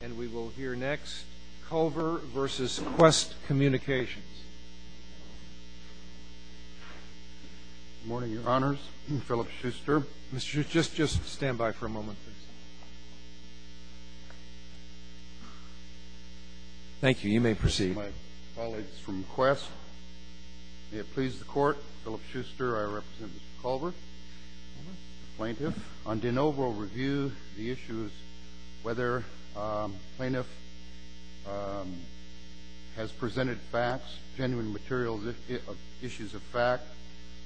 And we will hear next, Culver v. Qwest Communications. Good morning, Your Honors. Philip Schuster. Mr. Schuster, just stand by for a moment, please. Thank you. You may proceed. My colleagues from Qwest, may it please the Court, Philip Schuster, I represent Mr. Culver, plaintiff. On de novo review, the issue is whether plaintiff has presented facts, genuine materials, issues of fact,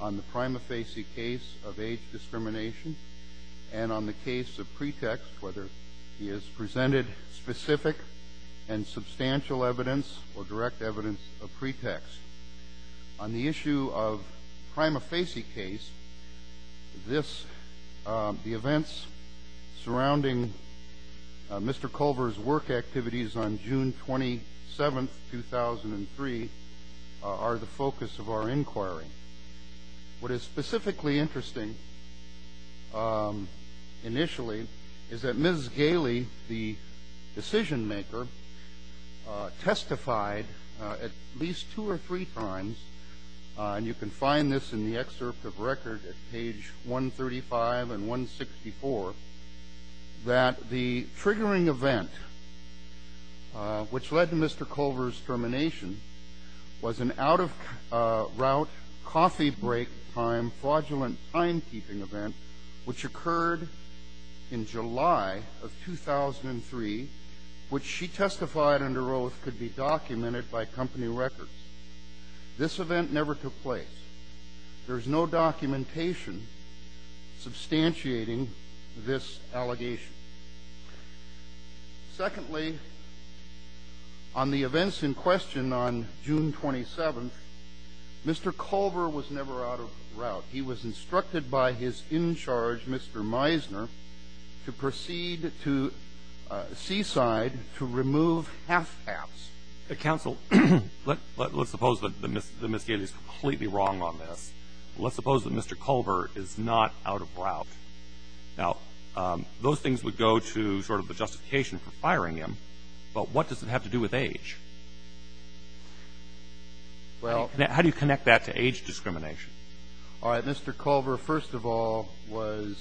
on the prima facie case of age discrimination and on the case of pretext, whether he has presented specific and substantial evidence or direct evidence of pretext. On the issue of prima facie case, this, the events surrounding Mr. Culver's work activities on June 27, 2003, are the focus of our inquiry. What is specifically interesting, initially, is that Ms. Galey, the decision maker, testified at least two or three times, and you can find this in the excerpt of record at page 135 and 164, that the triggering event, which led to Mr. Culver's termination, was an out-of-route, coffee-break-time, fraudulent timekeeping event, which occurred in July of 2003, which she testified under oath could be documented by company records. This event never took place. There is no documentation substantiating this allegation. Secondly, on the events in question on June 27, Mr. Culver was never out of route. He was instructed by his in-charge, Mr. Meisner, to proceed to Seaside to remove half-caps. The counsel, let's suppose that Ms. Galey is completely wrong on this. Let's suppose that Mr. Culver is not out of route. Now, those things would go to sort of the justification for firing him, but what does it have to do with age? Well How do you connect that to age discrimination? All right. Mr. Culver, first of all, was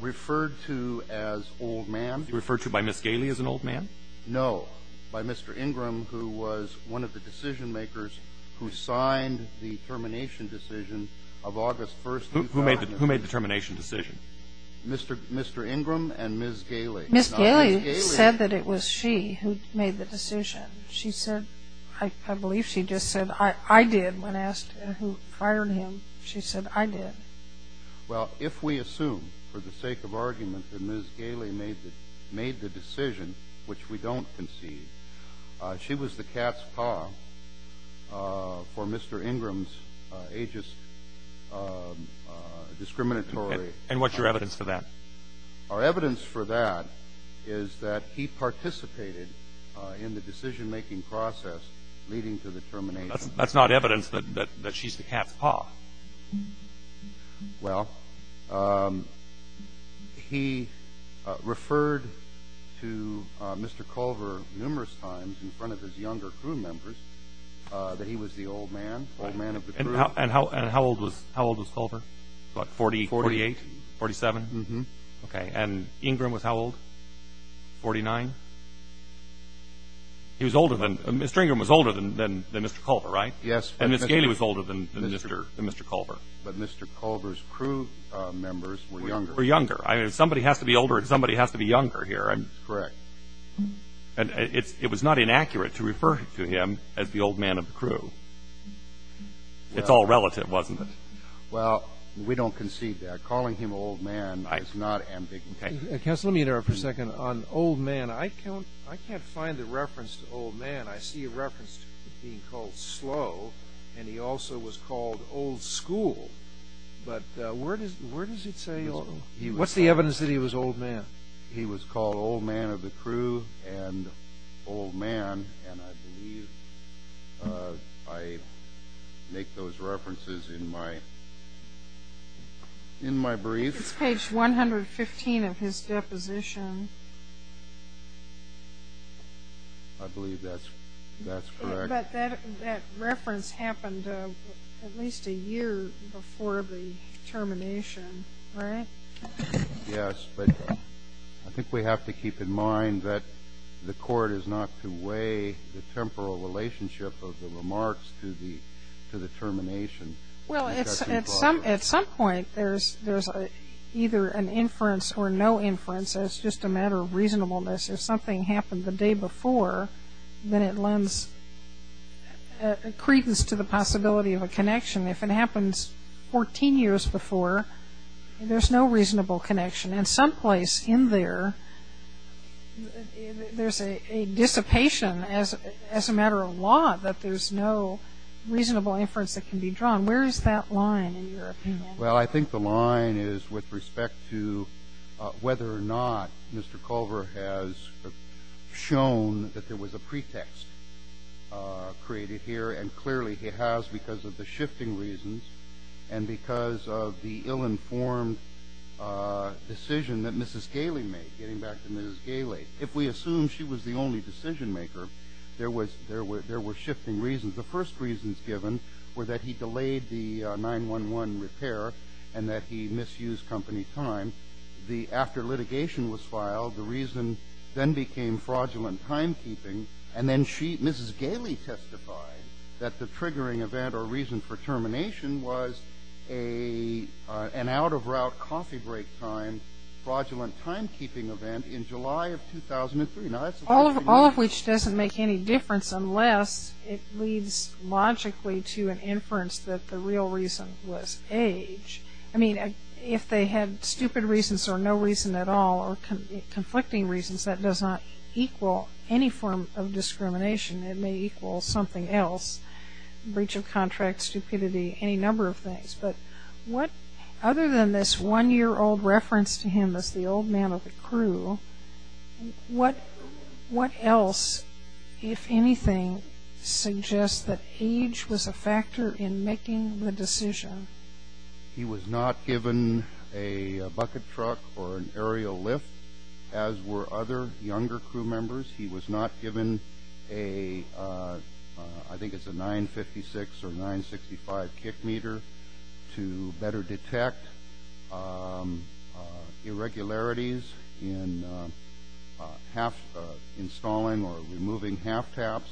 referred to as old man. Referred to by Ms. Galey as an old man? No. By Mr. Ingram, who was one of the decision-makers who signed the termination decision of August 1, 2000. Who made the termination decision? Mr. Ingram and Ms. Galey. Ms. Galey said that it was she who made the decision. She said, I believe she just said, I did, when asked who fired him. She said, I did. Well, if we assume, for the sake of argument, that Ms. Galey made the decision, which we don't concede, she was the cat's paw for Mr. Ingram's ageist discriminatory And what's your evidence for that? Our evidence for that is that he participated in the decision-making process leading to the termination. That's not evidence that she's the cat's paw. Well, he referred to Mr. Culver numerous times in front of his younger crew members that he was the old man, old man of the crew. And how old was Culver? What, 48? 47. 47? Mm-hmm. Okay. And Ingram was how old, 49? He was older than, Mr. Ingram was older than Mr. Culver, right? Yes. And Ms. Galey was older than Mr. Culver. But Mr. Culver's crew members were younger. Were younger. If somebody has to be older, somebody has to be younger here. Correct. And it was not inaccurate to refer to him as the old man of the crew. It's all relative, wasn't it? Well, we don't concede that. Counsel, let me interrupt for a second. On old man, I can't find a reference to old man. I see a reference to being called slow, and he also was called old school. But where does it say old? What's the evidence that he was old man? He was called old man of the crew and old man, and I believe I make those references in my brief. It's page 115 of his deposition. I believe that's correct. But that reference happened at least a year before the termination, right? Yes, but I think we have to keep in mind that the court is not to weigh the temporal relationship of the remarks to the termination. Well, at some point, there's either an inference or no inference. It's just a matter of reasonableness. If something happened the day before, then it lends credence to the possibility of a connection. If it happens 14 years before, there's no reasonable connection. And someplace in there, there's a dissipation as a matter of law that there's no reasonable inference that can be drawn. Where is that line in your opinion? Well, I think the line is with respect to whether or not Mr. Culver has shown that there was a pretext created here, and clearly he has because of the shifting reasons and because of the ill-informed decision that Mrs. Galey made, getting back to Mrs. Galey. If we assume she was the only decision-maker, there were shifting reasons. The first reasons given were that he delayed the 9-1-1 repair and that he misused company time. After litigation was filed, the reason then became fraudulent timekeeping. And then she, Mrs. Galey, testified that the triggering event or reason for termination was an out-of-route coffee break time fraudulent timekeeping event in July of 2003. All of which doesn't make any difference unless it leads logically to an inference that the real reason was age. I mean, if they had stupid reasons or no reason at all or conflicting reasons, that does not equal any form of discrimination. It may equal something else, breach of contract, stupidity, any number of things. But other than this one-year-old reference to him as the old man of the crew, what else, if anything, suggests that age was a factor in making the decision? He was not given a bucket truck or an aerial lift, as were other younger crew members. He was not given a, I think it's a 9-56 or 9-65 kick meter, to better detect irregularities in installing or removing half-taps.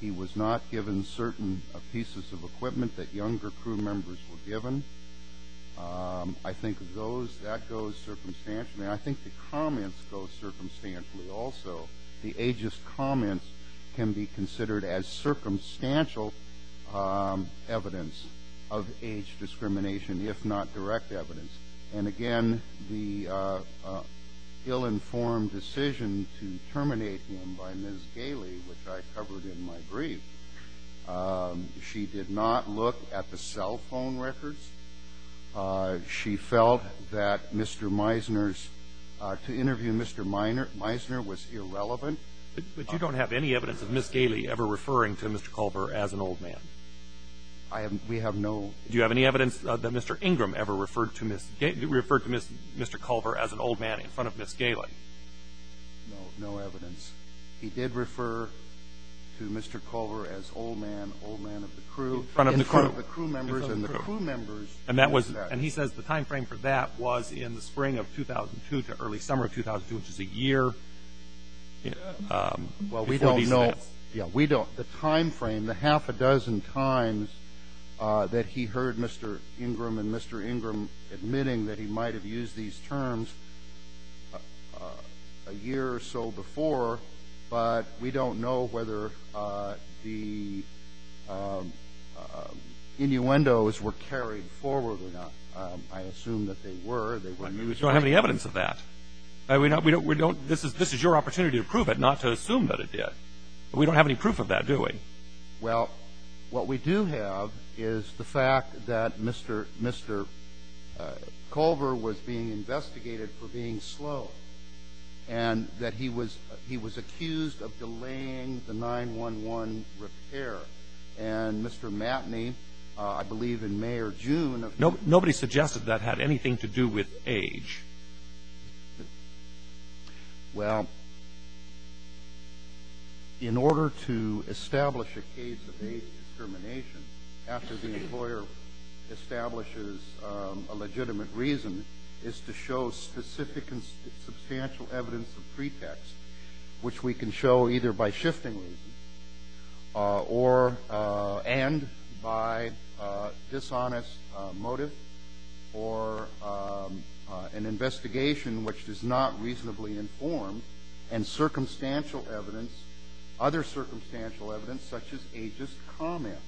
He was not given certain pieces of equipment that younger crew members were given. I think that goes circumstantially. I think the comments go circumstantially also. The ageist comments can be considered as circumstantial evidence of age discrimination, if not direct evidence. And, again, the ill-informed decision to terminate him by Ms. Gailey, which I covered in my brief, she did not look at the cell phone records. She felt that Mr. Meisner's, to interview Mr. Meisner was irrelevant. But you don't have any evidence of Ms. Gailey ever referring to Mr. Culver as an old man? We have no. Do you have any evidence that Mr. Ingram ever referred to Mr. Culver as an old man in front of Ms. Gailey? No, no evidence. He did refer to Mr. Culver as old man, old man of the crew. In front of the crew. And he says the time frame for that was in the spring of 2002 to early summer of 2002, which is a year. Well, we don't know. Yeah, we don't. The time frame, the half a dozen times that he heard Mr. Ingram and Mr. Ingram admitting that he might have used these terms a year or so before, but we don't know whether the innuendos were carried forward or not. I assume that they were. We don't have any evidence of that. This is your opportunity to prove it, not to assume that it did. But we don't have any proof of that, do we? Well, what we do have is the fact that Mr. Culver was being investigated for being slow and that he was accused of delaying the 9-1-1 repair. And Mr. Matney, I believe in May or June. Nobody suggested that had anything to do with age. Well, in order to establish a case of age discrimination, after the employer establishes a legitimate reason, is to show specific and substantial evidence of pretext, which we can show either by shifting reason and by dishonest motive or an investigation which is not reasonably informed and circumstantial evidence, other circumstantial evidence, such as ageist comments.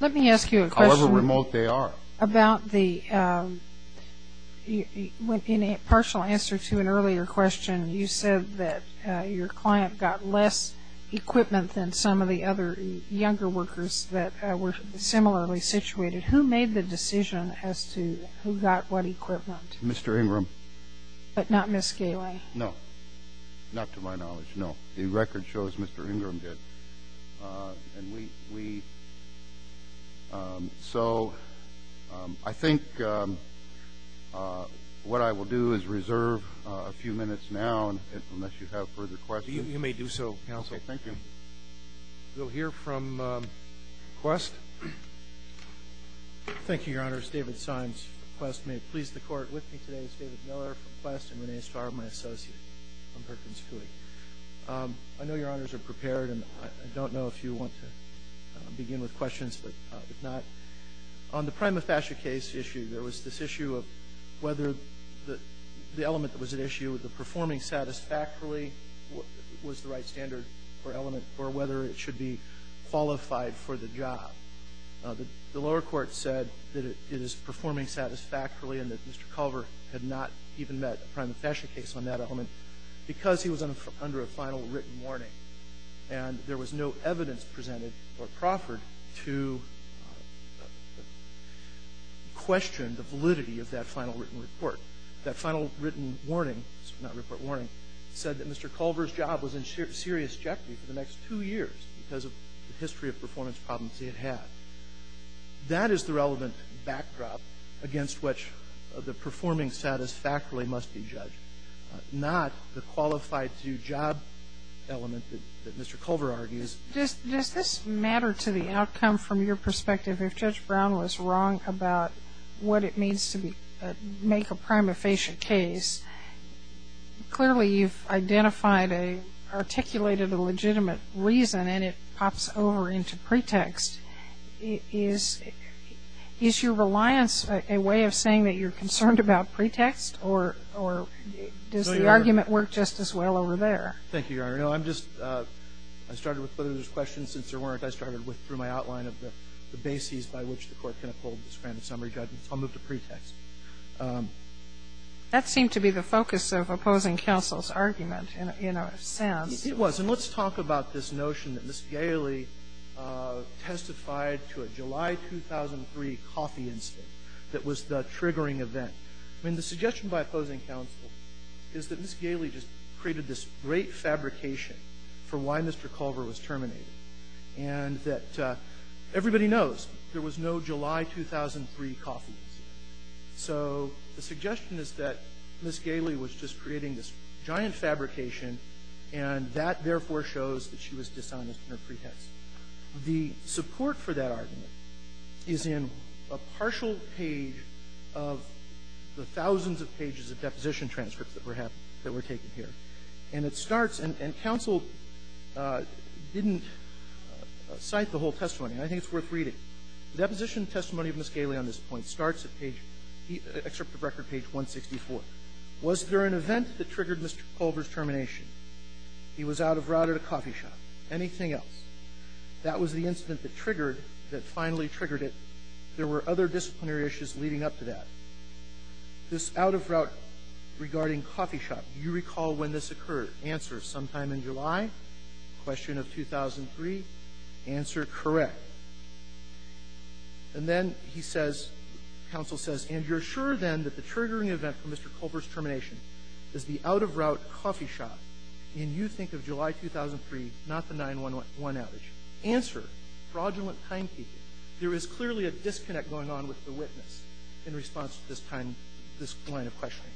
Let me ask you a question. However remote they are. About the partial answer to an earlier question, you said that your client got less equipment than some of the other younger workers that were similarly situated. Who made the decision as to who got what equipment? Mr. Ingram. But not Ms. Galey? No. Not to my knowledge. No. The record shows Mr. Ingram did. And we so I think what I will do is reserve a few minutes now, unless you have further questions. You may do so, counsel. Okay. Thank you. We'll hear from Quest. Thank you, Your Honors. David Signs, Quest. May it please the Court. With me today is David Miller from Quest and Renee Starr, my associate from Perkins Coie. I know Your Honors are prepared, and I don't know if you want to begin with questions, but if not, on the prima facie case issue, there was this issue of whether the element that was at issue, the performing satisfactorily was the right standard or element or whether it should be qualified for the job. The lower court said that it is performing satisfactorily and that Mr. Culver had not even met a prima facie case on that element because he was under a final written warning. And there was no evidence presented for Crawford to question the validity of that final written report. That final written warning, not report warning, said that Mr. Culver's job was in That is the relevant backdrop against which the performing satisfactorily must be judged, not the qualified-to-job element that Mr. Culver argues. Does this matter to the outcome from your perspective if Judge Brown was wrong about what it means to make a prima facie case? Clearly, you've identified, articulated a legitimate reason, and it pops over into a pretext. Is your reliance a way of saying that you're concerned about pretext, or does the argument work just as well over there? Thank you, Your Honor. No, I'm just, I started with whether there's questions. Since there weren't, I started with, through my outline of the bases by which the Court can uphold this grand summary judgment. I'll move to pretext. That seemed to be the focus of opposing counsel's argument in a sense. It was. And let's talk about this notion that Ms. Galey testified to a July 2003 coffee incident that was the triggering event. I mean, the suggestion by opposing counsel is that Ms. Galey just created this great fabrication for why Mr. Culver was terminated, and that everybody knows there was no July 2003 coffee incident. So the suggestion is that Ms. Galey was just creating this giant fabrication, and that, therefore, shows that she was dishonest in her pretext. The support for that argument is in a partial page of the thousands of pages of deposition transcripts that were have been taken here. And it starts, and counsel didn't cite the whole testimony, and I think it's worth reading. Deposition testimony of Ms. Galey on this point starts at page, excerpt of record page 164. Was there an event that triggered Mr. Culver's termination? He was out of route at a coffee shop. Anything else? That was the incident that triggered, that finally triggered it. There were other disciplinary issues leading up to that. This out-of-route regarding coffee shop, do you recall when this occurred? Answer, sometime in July, question of 2003. Answer, correct. And then he says, counsel says, and you're sure then that the triggering event for Mr. Culver's termination is the out-of-route coffee shop, and you think of July 2003, not the 9-1-1 outage. Answer, fraudulent timekeeping. There is clearly a disconnect going on with the witness in response to this time, this line of questioning,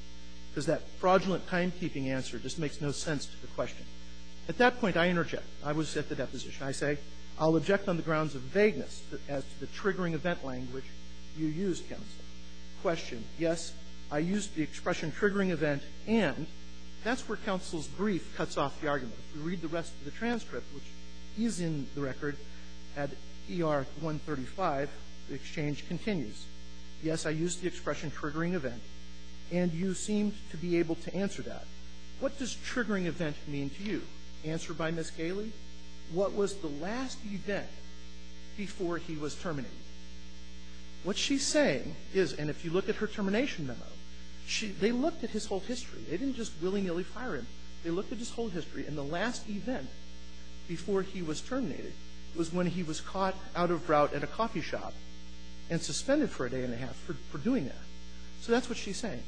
because that fraudulent timekeeping answer just makes no sense to the question. At that point, I interject. I was at the deposition. I say, I'll object on the grounds of vagueness as to the triggering event language you used, counsel. Question, yes, I used the expression triggering event, and that's where counsel's brief cuts off the argument. If you read the rest of the transcript, which is in the record at ER 135, the exchange continues. Yes, I used the expression triggering event, and you seemed to be able to answer that. What does triggering event mean to you? Answered by Ms. Galey, what was the last event before he was terminated? What she's saying is, and if you look at her termination memo, they looked at his whole history. They didn't just willy-nilly fire him. They looked at his whole history, and the last event before he was terminated was when he was caught out-of-route at a coffee shop and suspended for a day and a half for doing that. So that's what she's saying.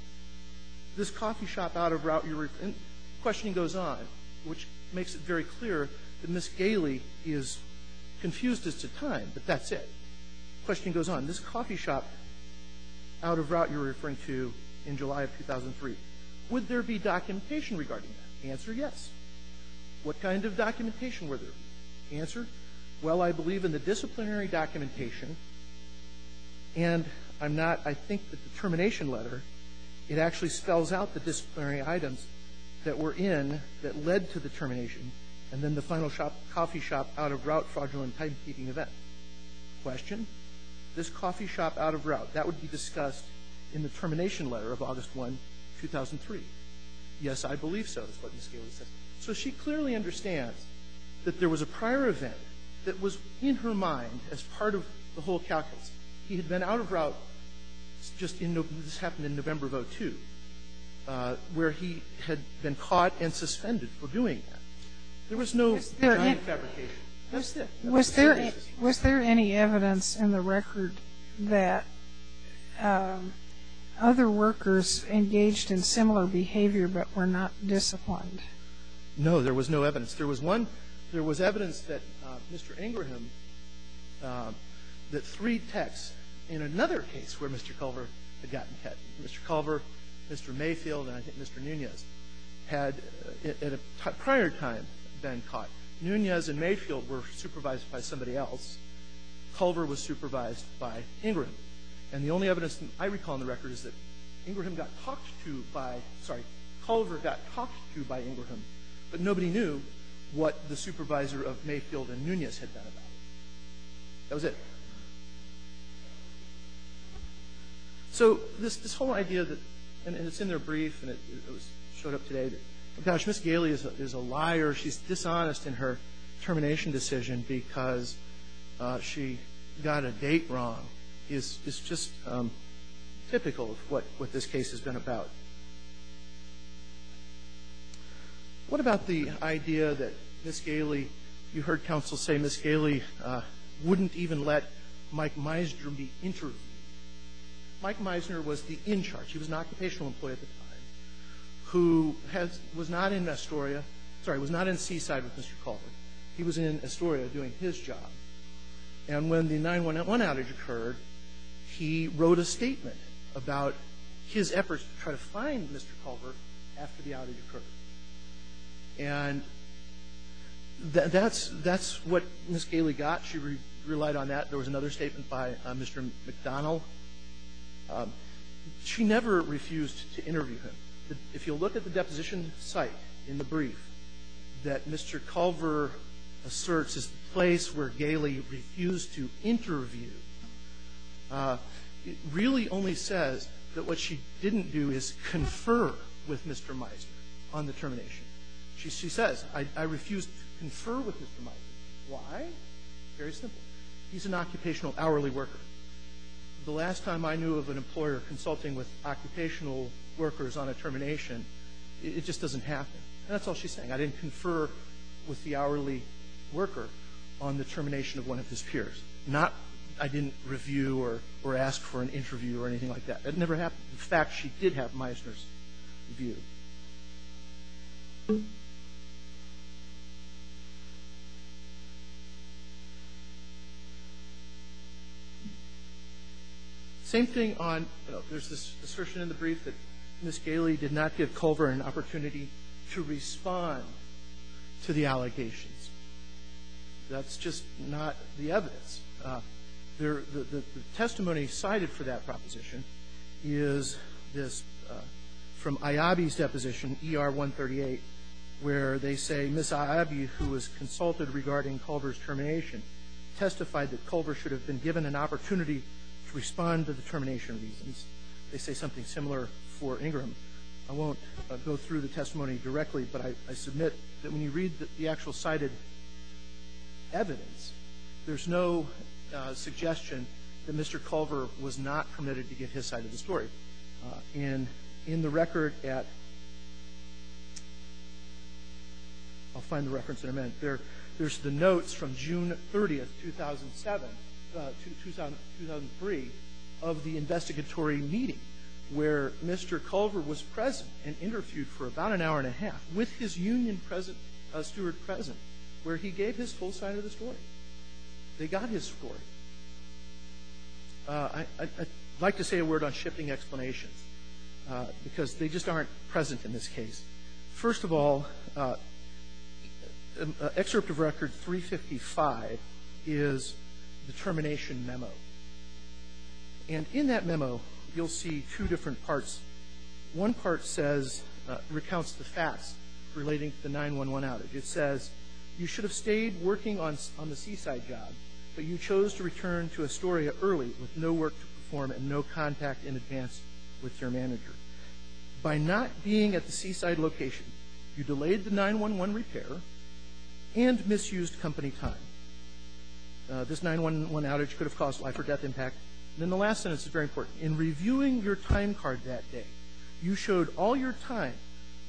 This coffee shop out-of-route you were questioning goes on, which makes it very clear that Ms. Galey is confused as to time, but that's it. Question goes on. This coffee shop out-of-route you're referring to in July of 2003, would there be documentation regarding that? Answer, yes. What kind of documentation were there? Answer, well, I believe in the disciplinary documentation, and I'm not sure that I think that the termination letter, it actually spells out the disciplinary items that were in, that led to the termination, and then the final coffee shop out-of-route fraudulent timekeeping event. Question, this coffee shop out-of-route, that would be discussed in the termination letter of August 1, 2003. Yes, I believe so is what Ms. Galey says. So she clearly understands that there was a prior event that was in her mind as part of the whole calculus. He had been out-of-route just in November, this happened in November of 2002, where he had been caught and suspended for doing that. There was no time fabrication. Was there any evidence in the record that other workers engaged in similar behavior but were not disciplined? No, there was no evidence. There was one, there was evidence that Mr. Ingraham, that three techs in another case where Mr. Culver had gotten caught, Mr. Culver, Mr. Mayfield, and I think Mr. Nunez, had at a prior time been caught. Nunez and Mayfield were supervised by somebody else. Culver was supervised by Ingraham. And the only evidence I recall in the record is that Ingraham got talked to by, sorry, Culver got talked to by what the supervisor of Mayfield and Nunez had done about it. That was it. So this whole idea that, and it's in their brief, and it showed up today, gosh, Ms. Galey is a liar. She's dishonest in her termination decision because she got a date wrong is just typical of what this case has been about. What about the idea that Ms. Galey, you heard counsel say Ms. Galey wouldn't even let Mike Meisner be interviewed? Mike Meisner was the in charge. He was an occupational employee at the time who was not in Astoria, sorry, was not in Seaside with Mr. Culver. He was in Astoria doing his job. And when the 9-1-1 outage occurred, he wrote a statement about his efforts to try to find Mr. Culver after the outage occurred. And that's what Ms. Galey got. She relied on that. There was another statement by Mr. McDonnell. She never refused to interview him. If you look at the deposition site in the brief that Mr. Culver asserts is the place where Galey refused to interview, it really only says that what she didn't do is confer with Mr. Meisner on the termination. She says, I refused to confer with Mr. Meisner. Why? Very simple. He's an occupational hourly worker. The last time I knew of an employer consulting with occupational workers on a termination, it just doesn't happen. And that's all she's saying. I didn't confer with the hourly worker on the termination of one of his peers. Not I didn't review or ask for an interview or anything like that. It never happened. In fact, she did have Meisner's review. Same thing on there's this assertion in the brief that Ms. Galey did not give Culver an opportunity to respond to Mr. Culver to the allegations. That's just not the evidence. The testimony cited for that proposition is this from Iabi's deposition, ER-138, where they say Ms. Iabi, who was consulted regarding Culver's termination, testified that Culver should have been given an opportunity to respond to the termination reasons. They say something similar for Ingram. I won't go through the testimony directly, but I submit that when you read the actual cited evidence, there's no suggestion that Mr. Culver was not permitted to give his side of the story. And in the record at I'll find the reference in a minute. There's the notes from June 30th, 2007 to 2003 of the investigatory meeting, where Mr. Culver was present and interviewed for about an hour and a half with his union steward present, where he gave his full side of the story. They got his story. I'd like to say a word on shifting explanations, because they just aren't present in this case. First of all, Excerpt of Record 355 is the termination memo. And in that memo, you'll see two different parts. One part says, recounts the facts relating to the 9-1-1 outage. It says, you should have stayed working on the seaside job, but you chose to return to Astoria early with no work to perform and no contact in advance with your manager. By not being at the seaside location, you delayed the 9-1-1 repair and misused company time. This 9-1-1 outage could have caused life-or-death impact. And then the last sentence is very important. In reviewing your time card that day, you showed all your time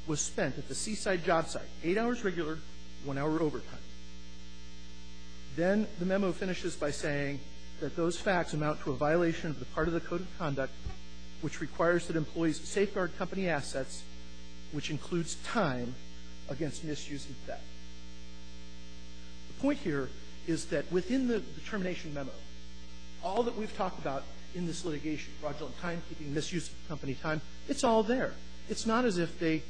was spent at the seaside job site, eight hours regular, one hour overtime. Then the memo finishes by saying that those facts amount to a violation of the part of the code of conduct which requires that employees safeguard company assets, which includes time, against misuse of debt. The point here is that within the termination memo, all that we've talked about in this litigation, fraudulent timekeeping, misuse of company time, it's all there. It's not as if they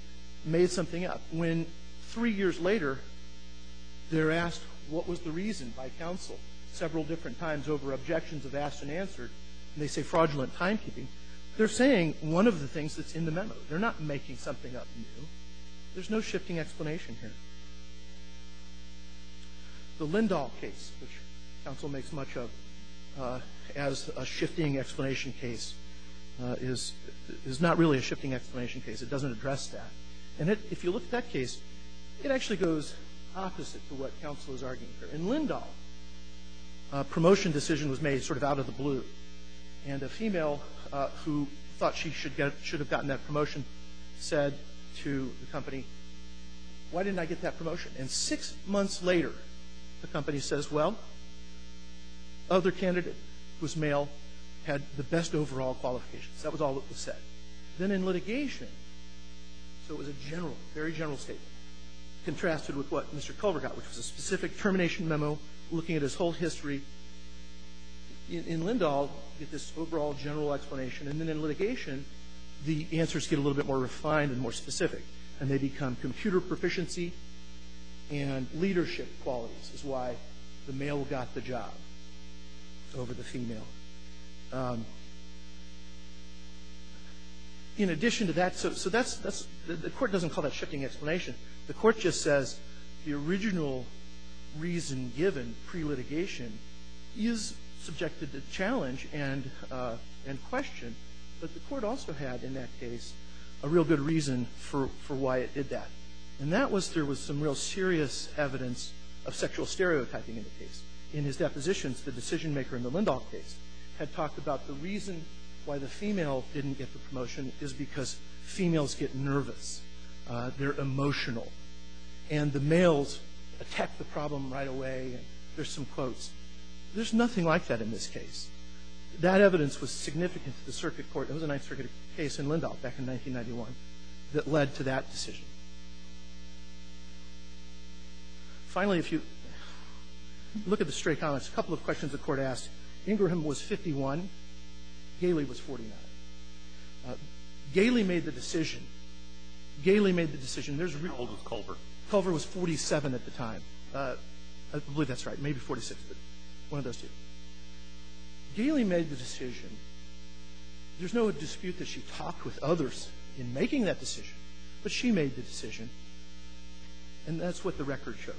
made something up. When, three years later, they're asked what was the reason by counsel several different times over objections of asked and answered, and they say fraudulent timekeeping, they're saying one of the things that's in the memo. They're not making something up new. There's no shifting explanation here. The Lindahl case, which counsel makes much of as a shifting explanation case, is not really a shifting explanation case. It doesn't address that. And if you look at that case, it actually goes opposite to what counsel is arguing here. In Lindahl, a promotion decision was made sort of out of the blue. And a female who thought she should have gotten that promotion said to the company, why didn't I get that promotion? And six months later, the company says, well, other candidate was male, had the best overall qualifications. That was all that was said. Then in litigation, so it was a general, very general statement, contrasted with what Mr. Culver got, which was a specific termination memo looking at his whole history. In Lindahl, you get this overall general explanation. And then in litigation, the answers get a little bit more refined and more specific, and they become computer proficiency and leadership qualities is why the male got the job over the female. In addition to that, so that's the court doesn't call that shifting explanation. The court just says the original reason given pre-litigation is subjected to challenge and question, but the court also had in that case a real good reason for why it did that. And that was there was some real serious evidence of sexual stereotyping in the case. In his depositions, the decision maker in the Lindahl case had talked about the reason why the female didn't get the promotion is because females get nervous. They're emotional. And the males attack the problem right away, and there's some quotes. There's nothing like that in this case. That evidence was significant to the circuit court. It was a Ninth Circuit case in Lindahl back in 1991 that led to that decision. Finally, if you look at the stray comments, a couple of questions the court asked. Ingraham was 51. Galey was 49. Galey made the decision. Galey made the decision. There's a real one. How old was Culver? Culver was 47 at the time. I believe that's right. Maybe 46, but one of those two. Galey made the decision. There's no dispute that she talked with others in making that decision, but she made the decision, and that's what the record shows.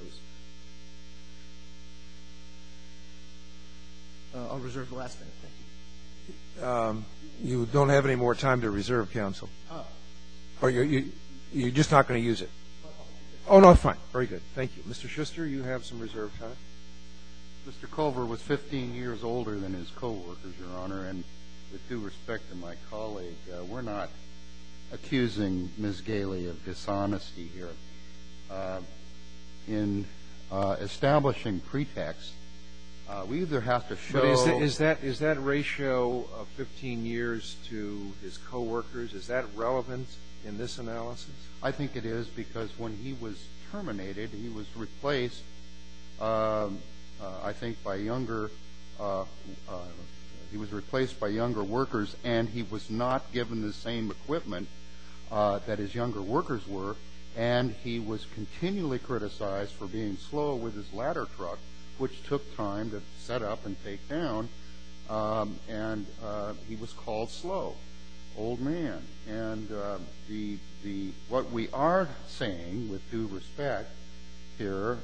I'll reserve the last minute. Thank you. You don't have any more time to reserve, counsel. You're just not going to use it. Oh, no. Fine. Very good. Thank you. Mr. Schuster, you have some reserve time. Mr. Culver was 15 years older than his co-workers, Your Honor, and with due respect to my colleague, we're not accusing Ms. Galey of dishonesty here. In establishing pretext, we either have to show But is that ratio of 15 years to his co-workers, is that relevant in this analysis? I think it is because when he was terminated, he was replaced, I think, by younger He was replaced by younger workers, and he was not given the same equipment that his younger workers were, and he was continually criticized for being slow with his ladder truck, which took time to set up and take down, and he was called slow. Old man. And what we are saying with due respect here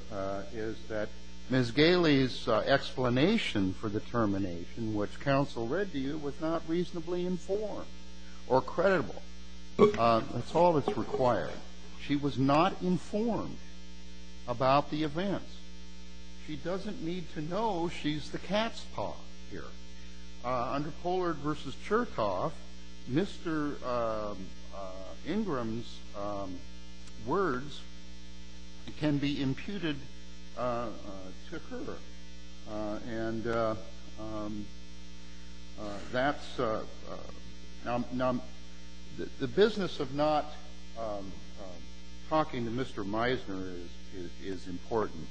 is that Ms. Galey's explanation for the termination, which counsel read to you, was not reasonably informed or credible. That's all that's required. She was not informed about the events. She doesn't need to know she's the cat's paw here. Under Pollard v. Cherkoff, Mr. Ingram's words can be imputed to her. And that's the business of not talking to Mr. Meisner is important.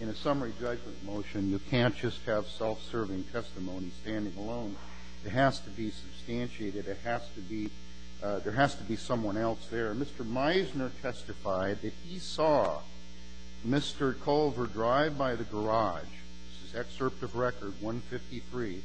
In a summary judgment motion, you can't just have self-serving testimony standing alone. It has to be substantiated. It has to be – there has to be someone else there. Mr. Meisner testified that he saw Mr. Culver drive by the garage. This is excerpt of record 153.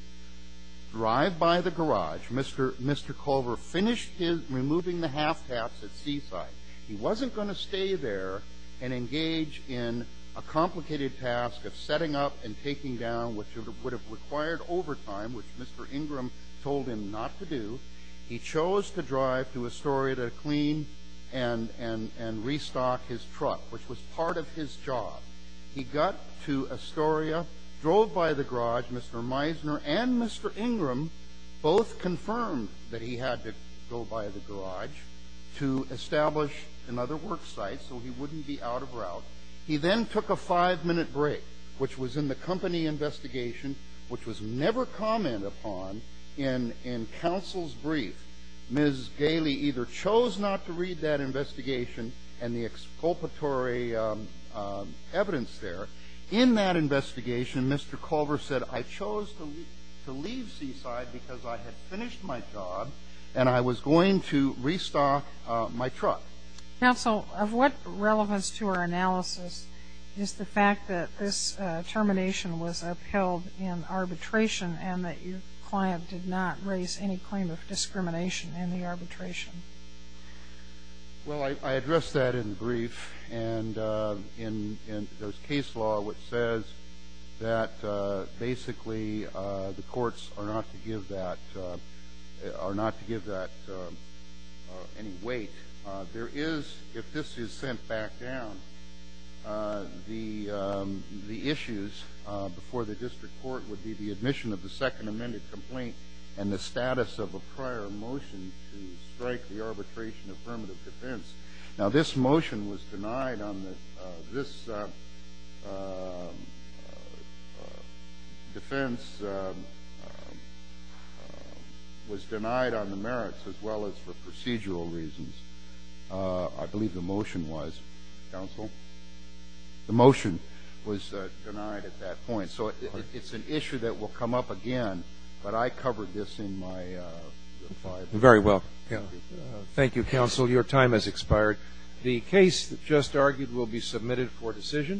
Drive by the garage. Mr. Culver finished his – removing the half taps at Seaside. He wasn't going to stay there and engage in a complicated task of setting up and taking down, which would have required overtime, which Mr. Ingram told him not to do. He chose to drive to Astoria to clean and restock his truck, which was part of his job. He got to Astoria, drove by the garage. Mr. Meisner and Mr. Ingram both confirmed that he had to go by the garage to establish another work site so he wouldn't be out of route. He then took a five-minute break, which was in the company investigation, which was never commented upon in counsel's brief. Ms. Gailey either chose not to read that investigation and the exculpatory evidence there. In that investigation, Mr. Culver said, I chose to leave Seaside because I had finished my job and I was going to restock my truck. Counsel, of what relevance to our analysis is the fact that this termination was upheld in arbitration and that your client did not raise any claim of discrimination in the arbitration? Well, I addressed that in the brief. And in the case law, which says that basically the courts are not to give that – are not to give that any weight, there is – if this is sent back down, the issues before the district court would be the admission of the second amended complaint and the status of a prior motion to strike the arbitration affirmative defense. Now, this motion was denied on the – this defense was denied on the merits as well as for procedural reasons. I believe the motion was, counsel – the motion was denied at that point. So it's an issue that will come up again, but I covered this in my five minutes. Very well. Thank you, counsel. Counsel, your time has expired. The case that just argued will be submitted for decision.